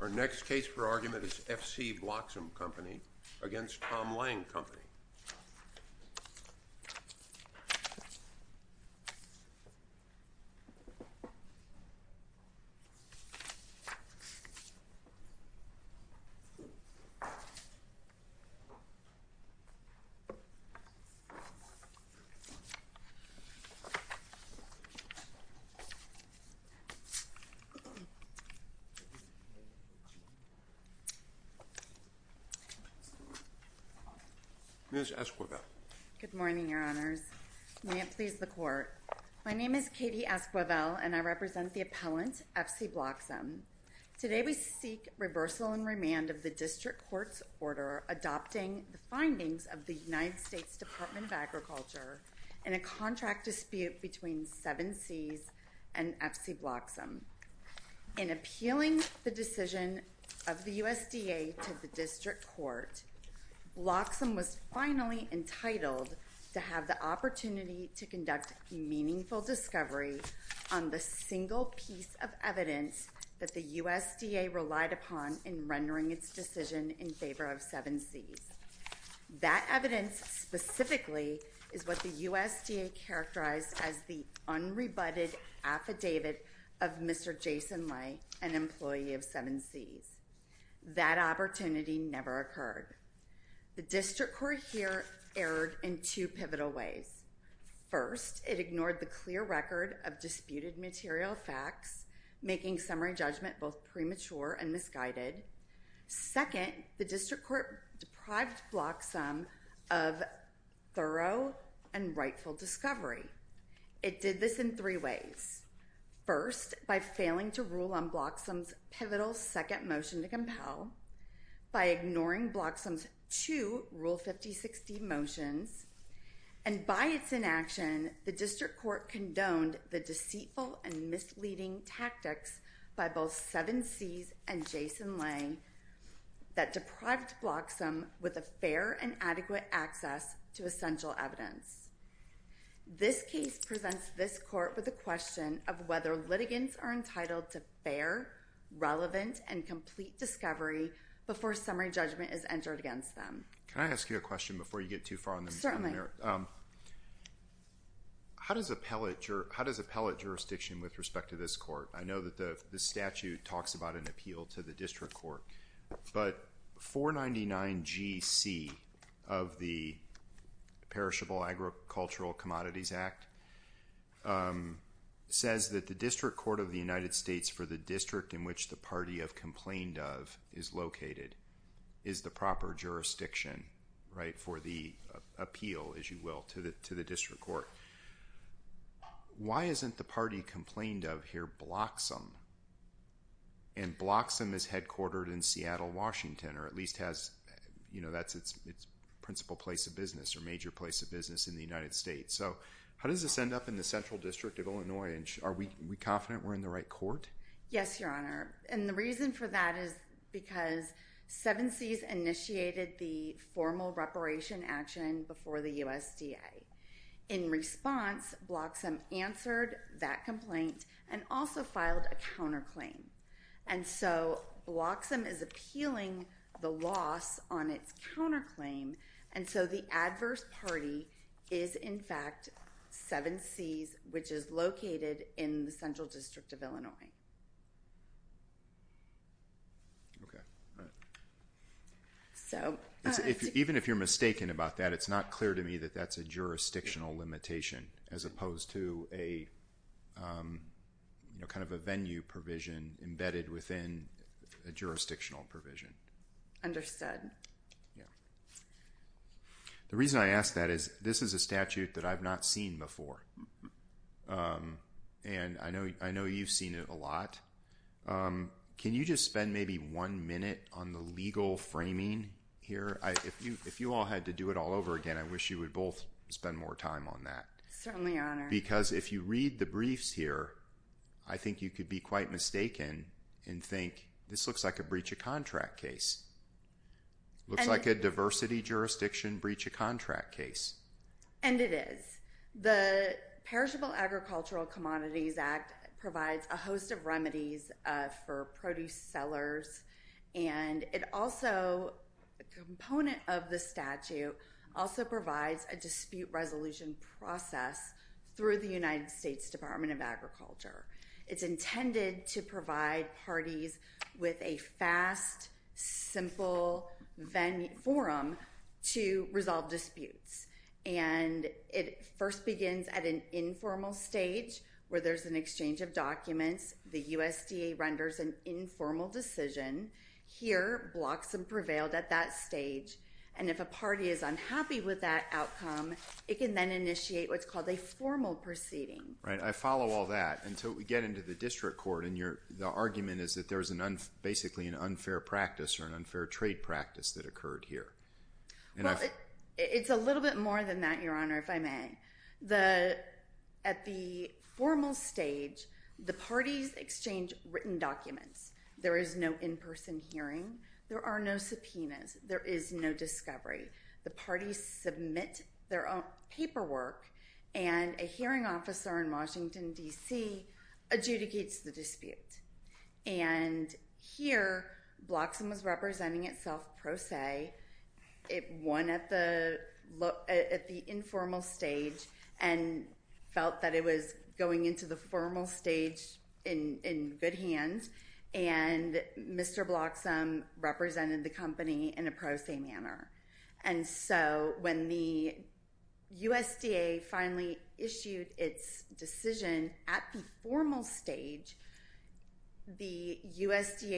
Our next case for argument is F.C. Bloxom Company v. Tom Lange Company. My name is Katie Esquivel, and I represent the appellant, F.C. Bloxom. Today we seek reversal and remand of the District Court's order adopting the findings of the United States Department of Agriculture in a contract dispute between 7Cs and F.C. Bloxom. In appealing the decision of the USDA to the District Court, Bloxom was finally entitled to have the opportunity to conduct a meaningful discovery on the single piece of evidence that the USDA relied upon in rendering its decision in favor of 7Cs. That evidence specifically is what the USDA characterized as the unrebutted affidavit of Mr. Jason Lay, an employee of 7Cs. That opportunity never occurred. The District Court here erred in two pivotal ways. First, it ignored the clear record of disputed material facts, making summary judgment both premature and misguided. Second, the District Court deprived Bloxom of thorough and rightful discovery. It did this in three ways. First, by failing to rule on Bloxom's pivotal second motion to compel, by ignoring Bloxom's two Rule 5060 motions, and by its inaction, the District Court condoned the deceitful and misleading tactics by both 7Cs and Jason Lange that deprived Bloxom with fair and adequate access to essential evidence. This case presents this court with a question of whether litigants are entitled to fair, relevant, and complete discovery before summary judgment is entered against them. Can I ask you a question before you get too far on the merit? Certainly. How does appellate jurisdiction with respect to this court? I know that the of the Perishable Agricultural Commodities Act says that the District Court of the United States for the district in which the party of complained of is located is the proper jurisdiction for the appeal, as you will, to the District Court. Why isn't the party complained of here Bloxom, and Bloxom is headquartered in Seattle, Washington, or at least has, you know, that's its principal place of business or major place of business in the United States. So how does this end up in the Central District of Illinois? Are we confident we're in the right court? Yes, Your Honor. And the reason for that is because 7Cs initiated the formal reparation action before the USDA. In response, Bloxom answered that complaint and also filed a counterclaim. And so Bloxom is appealing the loss on its counterclaim, and so the adverse party is in fact 7Cs, which is located in the Central District of Illinois. Okay. So even if you're mistaken about that, it's not clear to me that that's a jurisdictional limitation as opposed to a, you know, kind of a venue provision embedded within a jurisdictional provision. Understood. Yeah. The reason I ask that is this is a statute that I've not seen before, and I know you've seen it a lot. Can you just spend maybe one minute on the legal framing here? If you all had to do it all over again, I wish you would both spend more time on that. Certainly, Your Honor. Because if you read the briefs here, I think you could be quite mistaken and think, this looks like a breach of contract case. Looks like a diversity jurisdiction breach contract case. And it is. The Perishable Agricultural Commodities Act provides a host of remedies for produce sellers, and it also, a component of the statute, also provides a dispute resolution process through the United States Department of Agriculture. It's intended to disputes. And it first begins at an informal stage where there's an exchange of documents. The USDA renders an informal decision. Here, blocks have prevailed at that stage. And if a party is unhappy with that outcome, it can then initiate what's called a formal proceeding. Right. I follow all that until we get into the district court, and the argument is that there it's a little bit more than that, Your Honor, if I may. At the formal stage, the parties exchange written documents. There is no in-person hearing. There are no subpoenas. There is no discovery. The parties submit their own paperwork, and a hearing officer in Washington, D.C. adjudicates the dispute. And here, Bloxham was representing itself pro se. It won at the informal stage and felt that it was going into the formal stage in good hands. And Mr. Bloxham represented the The USDA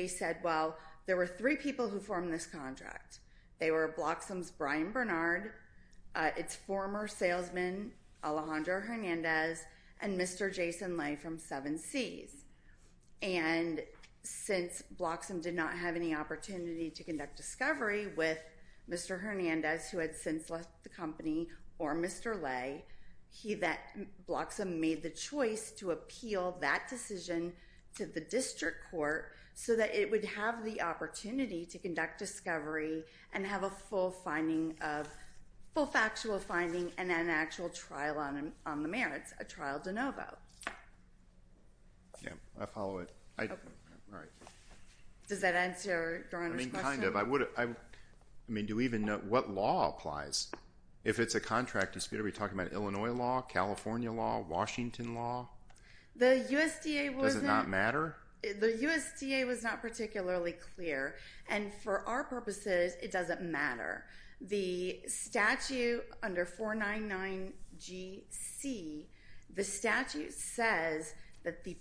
said, well, there were three people who formed this contract. They were Bloxham's Brian Bernard, its former salesman, Alejandro Hernandez, and Mr. Jason Lay from Seven Seas. And since Bloxham did not have any opportunity to conduct discovery with Mr. Hernandez, who had since left the company, or Mr. Lay, Bloxham made the choice to appeal that decision to the district court so that it would have the opportunity to conduct discovery and have a full factual finding and an actual trial on the merits, a trial de novo. Yeah, I follow it. Does that answer Your Honor's question? I mean, do we even know what law applies? If it's a contract dispute, are we talking about Illinois law, California law, Washington law? Does it not matter? The USDA was not particularly clear, and for our purposes, it doesn't matter. The statute under 499GC, the statute says that the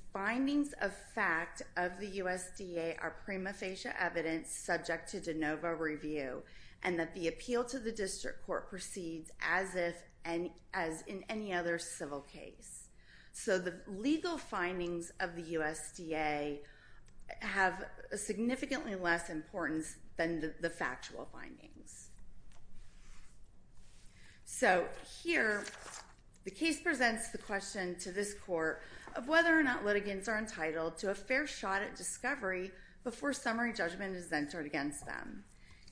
review and that the appeal to the district court proceeds as in any other civil case. So the legal findings of the USDA have significantly less importance than the factual findings. So here, the case presents the question to this court of whether or not litigants are entitled to a fair shot at discovery before summary judgment is entered against them.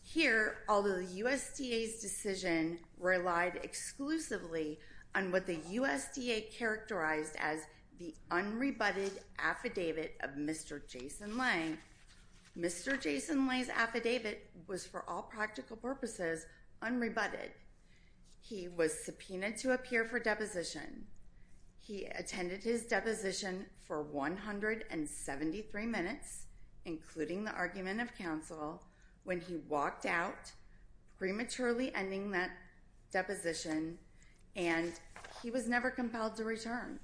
Here, although the USDA's decision relied exclusively on what the USDA characterized as the unrebutted affidavit of Mr. Jason Lay, Mr. Jason Lay's affidavit was for all practical purposes unrebutted. He was subpoenaed to appear for deposition. He attended his deposition for 173 minutes, including the argument of counsel, when he walked out prematurely ending that deposition, and he was never compelled to return.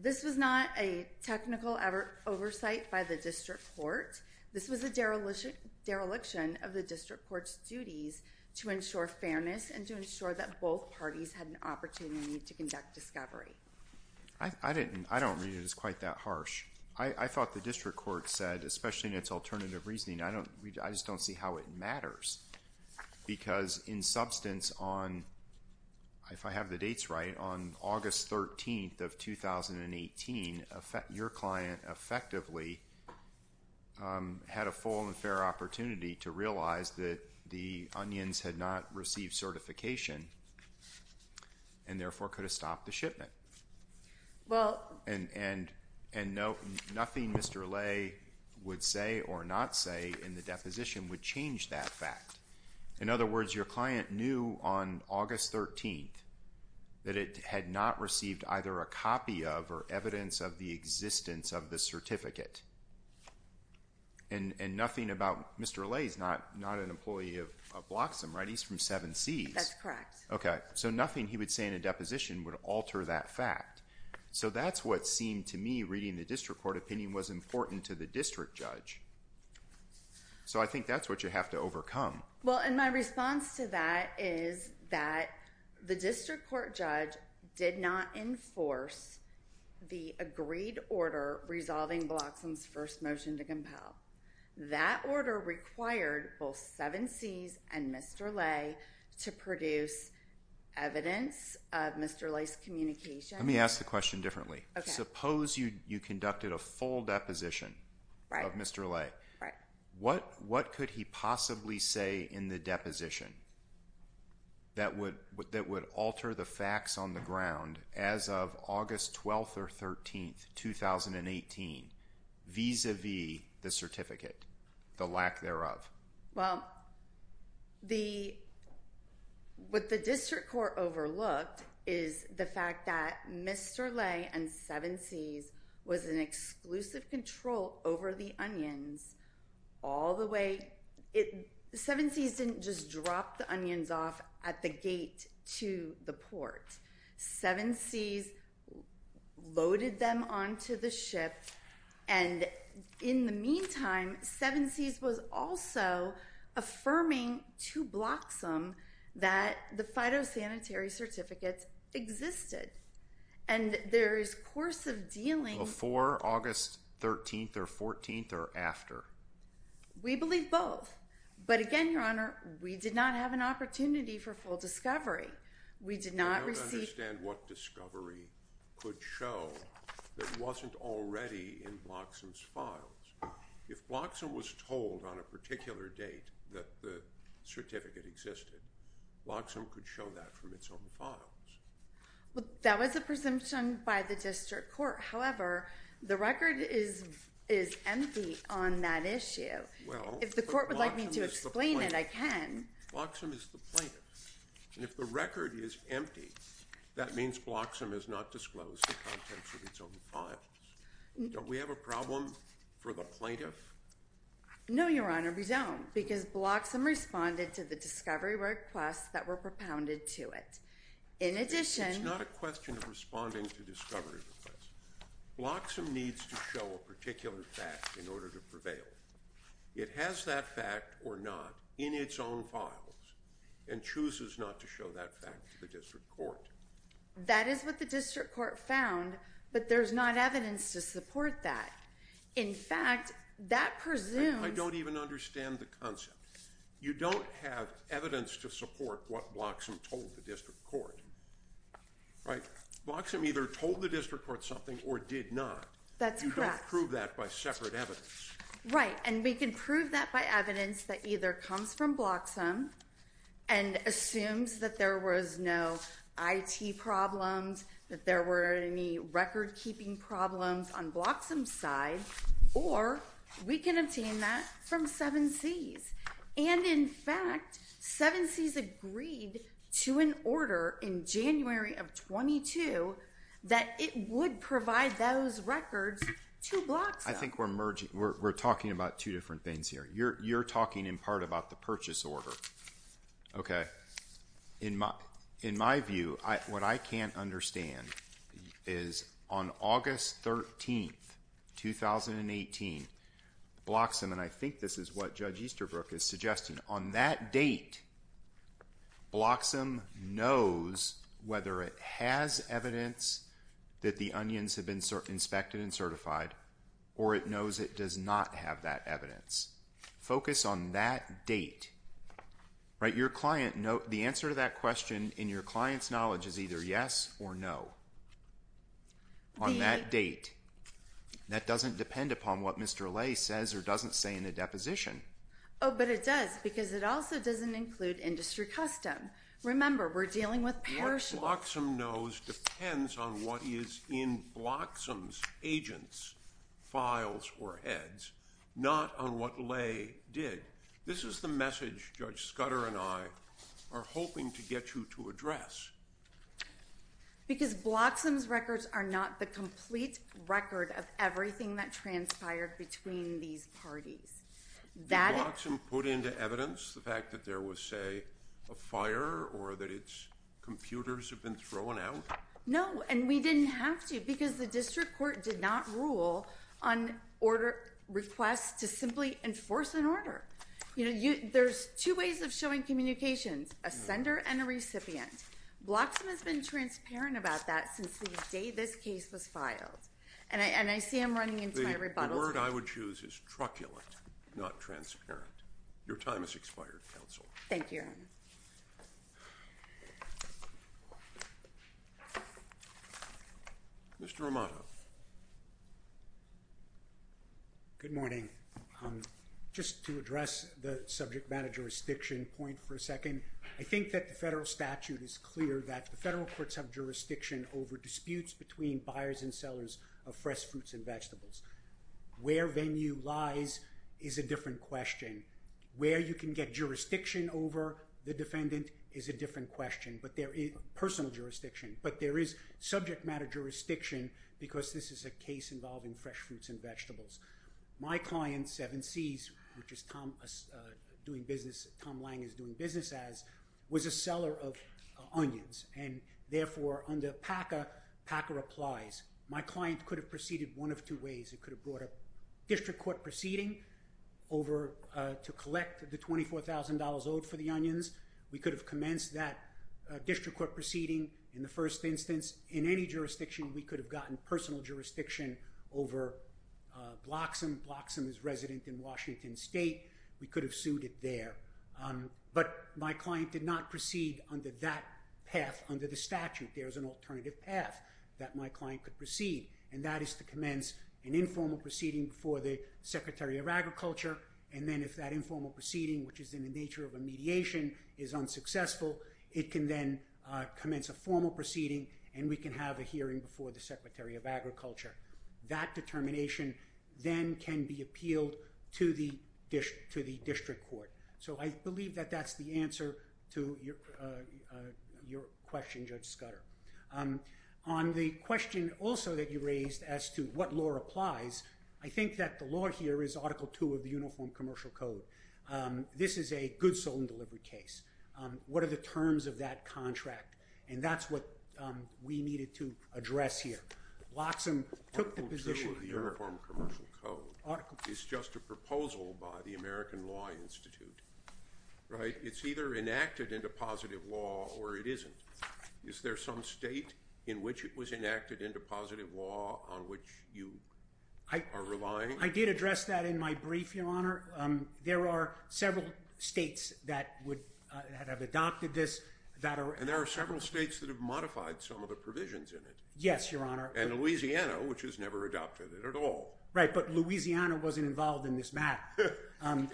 This was not a technical oversight by the district court. This was a dereliction of the district court's duties to ensure fairness and to ensure that both parties had an opportunity to conduct discovery. I don't read it as quite that harsh. I thought the district court said, especially in its alternative reasoning, I just don't see how it matters. Because in substance, if I have the dates right, on August 13th of 2018, your client effectively had a full and fair opportunity to realize that the onions had not received certification and therefore could have stopped the shipment. And nothing Mr. Lay would say or not say in the deposition would change that fact. In other words, your client knew on August 13th that it had not received either a copy of or evidence of the existence of the certificate. And nothing about Mr. Lay is not an employee of Bloxham, right? He's from 7C. That's correct. Okay. So nothing he would say in a deposition would alter that fact. So that's what seemed to me reading the district court opinion was important to the district judge. So I think that's what you have to overcome. Well, and my response to that is that the district court judge did not enforce the agreed order resolving Bloxham's first motion to compel. That order required both 7Cs and Mr. Lay to produce evidence of Mr. Lay's communication. Let me ask the question differently. Suppose you conducted a full deposition of Mr. Lay. What could he possibly say in the deposition that would alter the facts on the ground as of August 12th or 13th, 2018 vis-a-vis the certificate, the lack thereof? Well, what the district court overlooked is the fact that Mr. Lay and 7Cs was in exclusive control over the onions all the way. 7Cs didn't just drop the onions off at the gate to the port. 7Cs loaded them onto the ship. And in the meantime, 7Cs was also affirming to Bloxham that the after. We believe both. But again, Your Honor, we did not have an opportunity for full discovery. We did not receive... I don't understand what discovery could show that wasn't already in Bloxham's files. If Bloxham was told on a particular date that the certificate existed, Bloxham could show that from its own files. Well, that was a presumption by the district court. However, the record is empty on that issue. If the court would like me to explain it, I can. Bloxham is the plaintiff. And if the record is empty, that means Bloxham has not disclosed the contents of its own files. Don't we have a problem for the plaintiff? No, Your Honor, we don't. Because Bloxham responded to the discovery requests that It's not a question of responding to discovery requests. Bloxham needs to show a particular fact in order to prevail. It has that fact or not in its own files and chooses not to show that fact to the district court. That is what the district court found, but there's not evidence to support that. In fact, that presumes... I don't even understand the concept. You don't have evidence to support what Bloxham told the district court. Right. Bloxham either told the district court something or did not. That's correct. You don't prove that by separate evidence. Right. And we can prove that by evidence that either comes from Bloxham and assumes that there was no IT problems, that there were any record keeping problems on Bloxham's side, or we can obtain that from Seven Seas. And in fact, Seven Seas agreed to an order in January of 22 that it would provide those records to Bloxham. I think we're talking about two different things here. You're talking in part about the purchase order. Okay. In my view, what I can't understand is on August 13th, 2018, Bloxham, and I think this is what Judge Easterbrook is suggesting, on that date, Bloxham knows whether it has evidence that the onions have been inspected and certified, or it knows it does not have that evidence. Focus on that date. Right. The answer to that question in your client's knowledge is either yes or no. On that date, that doesn't depend upon what Mr. Lay says or doesn't say in the deposition. Oh, but it does because it also doesn't include industry custom. Remember, we're dealing with perishables. What Bloxham knows depends on what is in Bloxham's agents' files or heads, not on what Lay did. This is the message Judge Scudder and I are hoping to get you to address. Because Bloxham's records are not the complete record of everything that transpired between these parties. Did Bloxham put into evidence the fact that there was, say, a fire or that its computers have been thrown out? No, and we didn't have to because the district court did not rule on request to simply enforce an order. There's two ways of showing communications, a sender and a recipient. Bloxham has been transparent about that since the day this case was filed. And I see I'm running into my rebuttal time. The word I would choose is truculent, not transparent. Your time has expired, counsel. Thank you, Your Honor. Mr. Amato. Good morning. Just to address the subject matter jurisdiction point for a second. I think that the federal statute is clear that the federal courts have jurisdiction over disputes between buyers and sellers of fresh fruits and vegetables. Where venue lies is a different question. Where you can get jurisdiction over the defendant is a different question, personal jurisdiction. But there is jurisdiction because this is a case involving fresh fruits and vegetables. My client, 7Cs, which is Tom doing business, Tom Lang is doing business as, was a seller of onions. And therefore, under PACA, PACA applies. My client could have proceeded one of two ways. It could have brought a district court proceeding over to collect the $24,000 owed for the onions. We could have commenced that district court proceeding in the first instance. In any jurisdiction, we could have gotten personal jurisdiction over Bloxham. Bloxham is resident in Washington State. We could have sued it there. But my client did not proceed under that path under the statute. There is an alternative path that my client could proceed. And that is to commence an informal proceeding before the Secretary of Agriculture. And then if that is unsuccessful, it can then commence a formal proceeding and we can have a hearing before the Secretary of Agriculture. That determination then can be appealed to the district court. So I believe that that's the answer to your question, Judge Scudder. On the question also that you raised as to what law applies, I think that the law here is Article II of the Uniform Commercial Code. What are the terms of that contract? And that's what we needed to address here. Bloxham took the position— Article II of the Uniform Commercial Code is just a proposal by the American Law Institute, right? It's either enacted into positive law or it isn't. Is there some state in which it was enacted into positive law on which you are relying? I did address that in my brief, Your Honor. There are several states that would have adopted this. And there are several states that have modified some of the provisions in it. Yes, Your Honor. And Louisiana, which has never adopted it at all. Right, but Louisiana wasn't involved in this matter.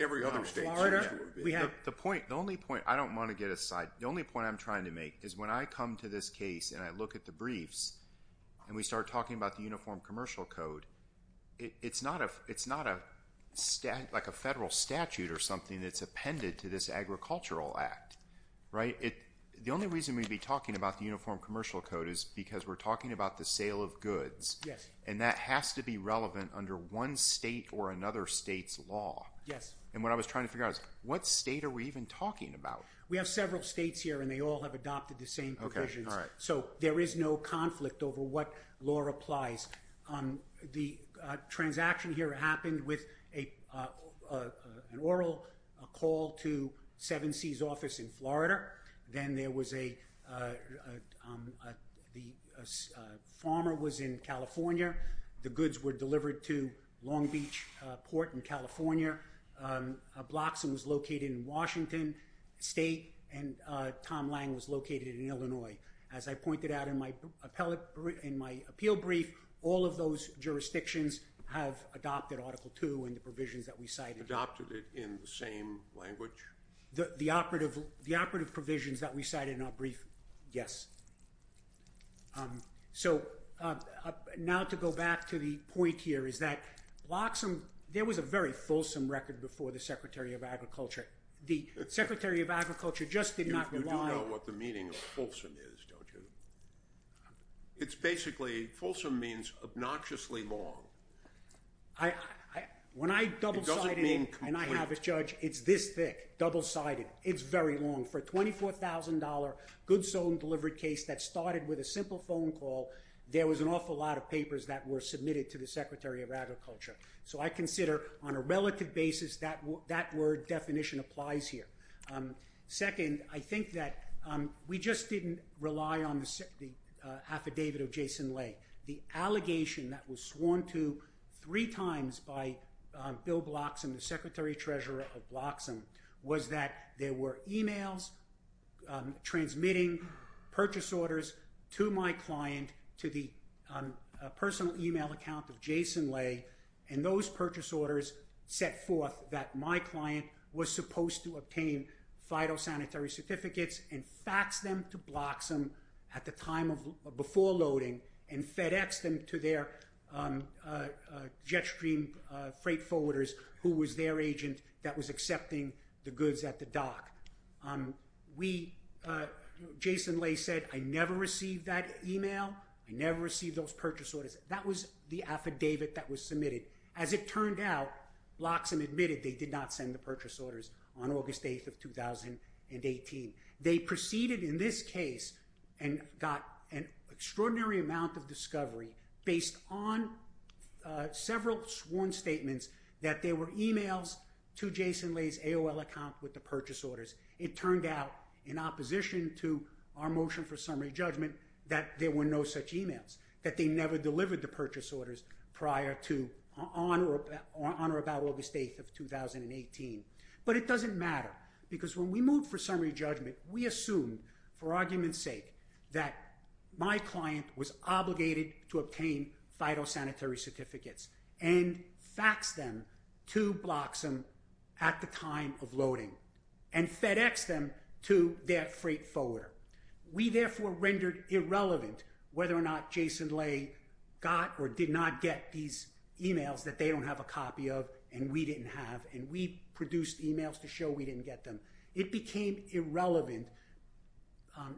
Every other state seems to have been. The only point—I don't want to get aside—the only point I'm trying to make is when I come to this case and I look at the briefs and we start talking about the Uniform Commercial Code, it's not like a federal statute or something that's appended to this Agricultural Act, right? The only reason we'd be talking about the Uniform Commercial Code is because we're talking about the sale of goods. And that has to be relevant under one state or another state's law. And what I was trying to figure out is what state are we even talking about? We have several states here and they all have adopted the same provisions. So there is no complies. The transaction here happened with an oral call to 7C's office in Florida. Then there was a—the farmer was in California. The goods were delivered to Long Beach Port in California. Blockson was located in Washington State and Tom Lang was located in Illinois. As I pointed out in my appeal brief, all of those jurisdictions have adopted Article II and the provisions that we cited. Adopted it in the same language? The operative provisions that we cited in our brief, yes. So now to go back to the point here is that Blockson—there was a very fulsome record before the Secretary of Agriculture. The Secretary of Agriculture just did not rely—You do know what the meaning of fulsome is, don't you? It's basically—fulsome means obnoxiously long. When I double-sided it and I have a judge, it's this thick, double-sided. It's very long. For a $24,000 goods sold and delivered case that started with a simple phone call, there was an awful lot of papers that were submitted to the Secretary of Agriculture. So I consider on a relative basis that word definition applies here. Second, I think that we just didn't rely on the affidavit of Jason Lay. The allegation that was sworn to three times by Bill Blockson, the Secretary-Treasurer of Blockson, was that there were emails transmitting purchase orders to my client, to the personal email account of Jason Lay, and those purchase orders set forth that my client was supposed to obtain phytosanitary certificates and fax them to Blockson before loading and FedEx them to their jet stream freight forwarders, who was their agent that was email. I never received those purchase orders. That was the affidavit that was submitted. As it turned out, Blockson admitted they did not send the purchase orders on August 8th of 2018. They proceeded in this case and got an extraordinary amount of discovery based on several sworn statements that there were emails to Jason Lay's AOL account with the purchase orders. It turned out, in opposition to our motion for summary judgment, that there were no such emails, that they never delivered the purchase orders on or about August 8th of 2018. But it doesn't matter because when we moved for summary judgment, we assumed, for argument's sake, that my client was obligated to obtain phytosanitary certificates and faxed them to their freight forwarder. We therefore rendered irrelevant whether or not Jason Lay got or did not get these emails that they don't have a copy of and we didn't have, and we produced emails to show we didn't get them. It became irrelevant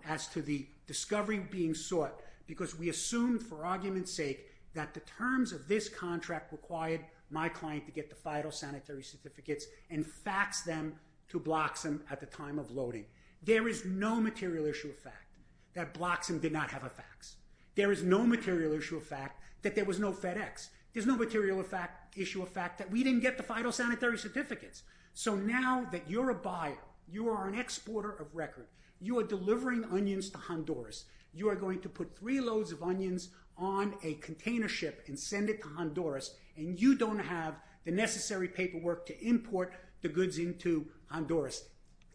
as to the discovery being sought because we assumed, for argument's sake, that the terms of this contract required my client to get the phytosanitary certificates and fax them to Bloxham at the time of loading. There is no material issue of fact that Bloxham did not have a fax. There is no material issue of fact that there was no FedEx. There's no material issue of fact that we didn't get the phytosanitary certificates. So now that you're a buyer, you are an exporter of record, you are delivering onions to Honduras, you are going to put three loads of onions on a container ship and send it to Honduras, and you don't have the necessary paperwork to import the goods into Honduras.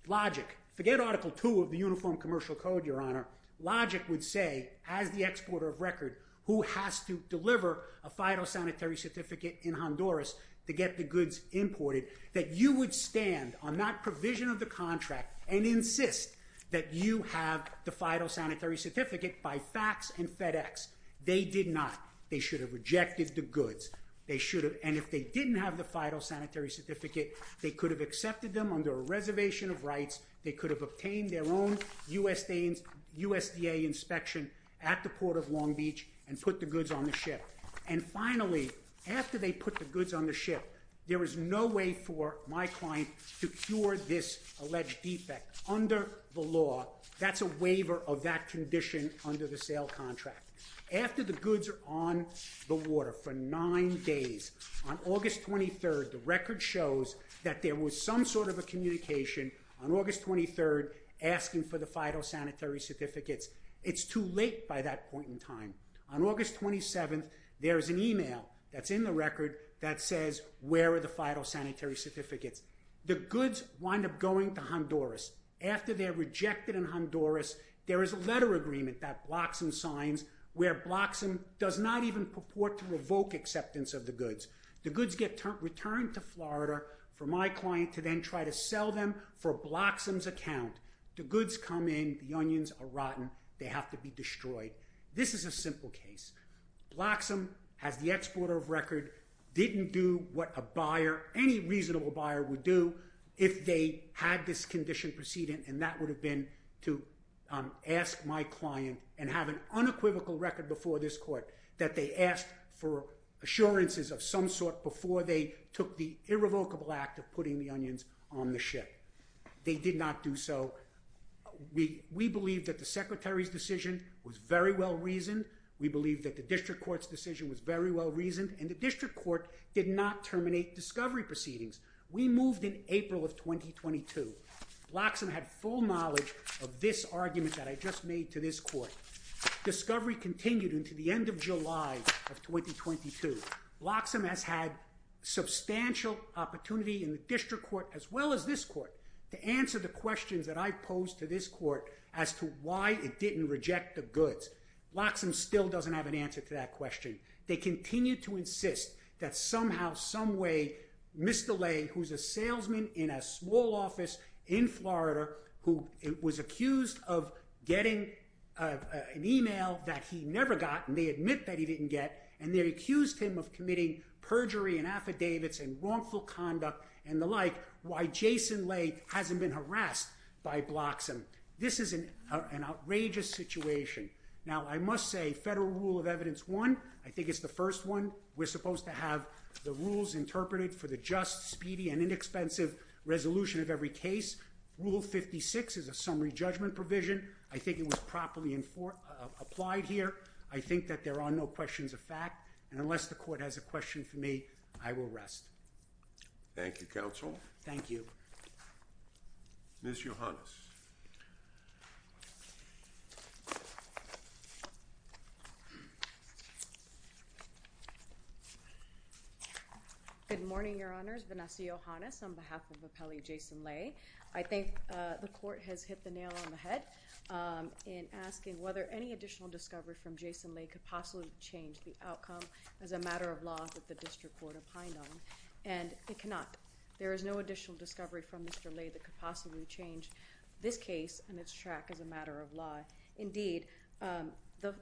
Logic. Forget Article 2 of the Uniform Commercial Code, Your Honor. Logic would say, as the exporter of record, who has to deliver a phytosanitary certificate in Honduras to get the goods imported, that you would stand on that provision of the contract and insist that you have the phytosanitary certificate by fax and FedEx. They did not. They should have rejected the goods. They should have, and if they didn't have the phytosanitary certificate, they could have accepted them under a reservation of rights. They could have obtained their own USDA inspection at the port of Long Beach and put the goods on the ship. And finally, after they put the goods on the ship, there is no way for my client to cure this alleged defect. Under the law, that's a waiver of that condition under the sale contract. After the goods are on the water for nine days, on August 23rd, the record shows that there was some sort of a communication on August 23rd asking for the phytosanitary certificates. It's too late by that point in time. On August 27th, there is an email that's in the record that says, where are the phytosanitary certificates? The goods wind up going to Honduras. After they're rejected in Honduras, there is a letter agreement that Bloxham signs where Bloxham does not even purport to revoke acceptance of the goods. The goods get returned to Florida for my client to then try to sell them for Bloxham's account. The goods come in, the onions are rotten, they have to be destroyed. This is a simple case. Bloxham, as the exporter of record, didn't do what a buyer, any reasonable buyer would do if they had this condition precedent, and that would have been to ask my client and have an unequivocal record before this court that they asked for assurances of some sort before they took the irrevocable act of putting the onions on the ship. They did not do so. We believe that the secretary's decision was very well reasoned. We believe that the district court's decision was very well reasoned, and the district court did not terminate discovery proceedings. We moved in April of 2022. Bloxham had full knowledge of this argument that I just made to this court. Discovery continued into the end of July of 2022. Bloxham has had substantial opportunity in the district court, as well as this court, to answer the questions that I posed to this court as to it didn't reject the goods. Bloxham still doesn't have an answer to that question. They continue to insist that somehow, some way, Mr. Lay, who's a salesman in a small office in Florida, who was accused of getting an email that he never got, and they admit that he didn't get, and they accused him of committing perjury and affidavits and wrongful conduct and the like, why Jason Lay hasn't been harassed by Bloxham. This is an outrageous situation. Now, I must say, federal rule of evidence one, I think it's the first one. We're supposed to have the rules interpreted for the just, speedy, and inexpensive resolution of every case. Rule 56 is a summary judgment provision. I think it was properly applied here. I think that there are no questions of fact, and unless the court has a question for me, I will rest. Thank you, counsel. Thank you. Miss Yohannes. Good morning, your honors. Vanessa Yohannes on behalf of Appellee Jason Lay. I think the court has hit the nail on the head in asking whether any additional discovery from Jason Lay could possibly change the outcome as a matter of law that the district court opined on, and it cannot. There is no additional discovery from Mr. Lay that could possibly change this case and its track as a matter of law. Indeed, the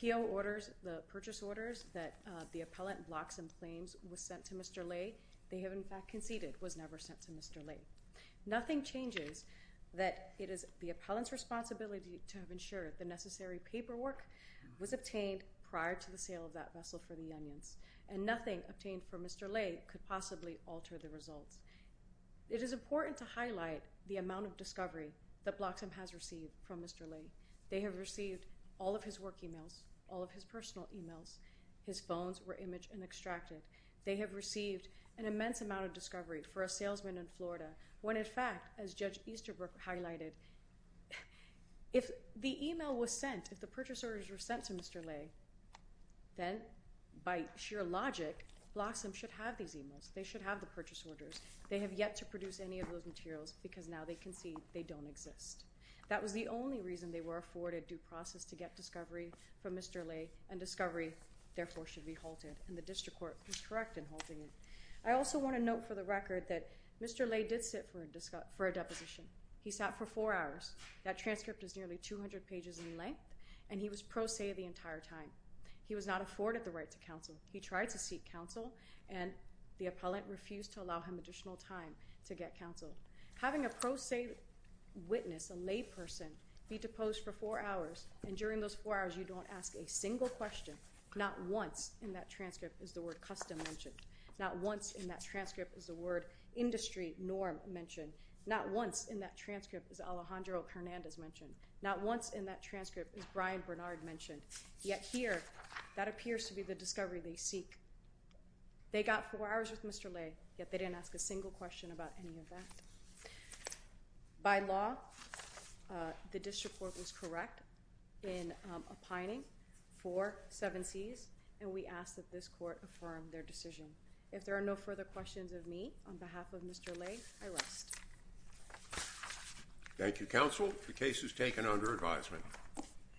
PO orders, the purchase orders that the appellant Bloxham claims was sent to Mr. Lay, they have in fact conceded was never sent to Mr. Lay. Nothing changes that it is the appellant's responsibility to have ensured the necessary paperwork was obtained prior to the sale of that vessel for the onions, and nothing obtained for Mr. Lay could alter the results. It is important to highlight the amount of discovery that Bloxham has received from Mr. Lay. They have received all of his work emails, all of his personal emails. His phones were imaged and extracted. They have received an immense amount of discovery for a salesman in Florida when in fact, as Judge Easterbrook highlighted, if the email was sent, if the should have the purchase orders. They have yet to produce any of those materials because now they concede they don't exist. That was the only reason they were afforded due process to get discovery from Mr. Lay, and discovery therefore should be halted, and the district court was correct in halting it. I also want to note for the record that Mr. Lay did sit for a deposition. He sat for four hours. That transcript is nearly 200 pages in length, and he was pro se the entire time. He was not afforded the right to counsel. He tried to seek counsel, and the appellant refused to allow him additional time to get counsel. Having a pro se witness, a lay person, be deposed for four hours, and during those four hours you don't ask a single question, not once in that transcript is the word custom mentioned, not once in that transcript is the word industry norm mentioned, not once in that transcript is Alejandro Hernandez mentioned, not once in that transcript is Brian Bernard mentioned, yet here that appears to be the discovery they seek. They got four hours with Mr. Lay, yet they didn't ask a single question about any of that. By law, the district court was correct in opining for seven C's, and we ask that this court affirm their decision. If there are no further questions of me on behalf of Mr. Lay, I rest. Thank you, counsel. The case is taken under advisement.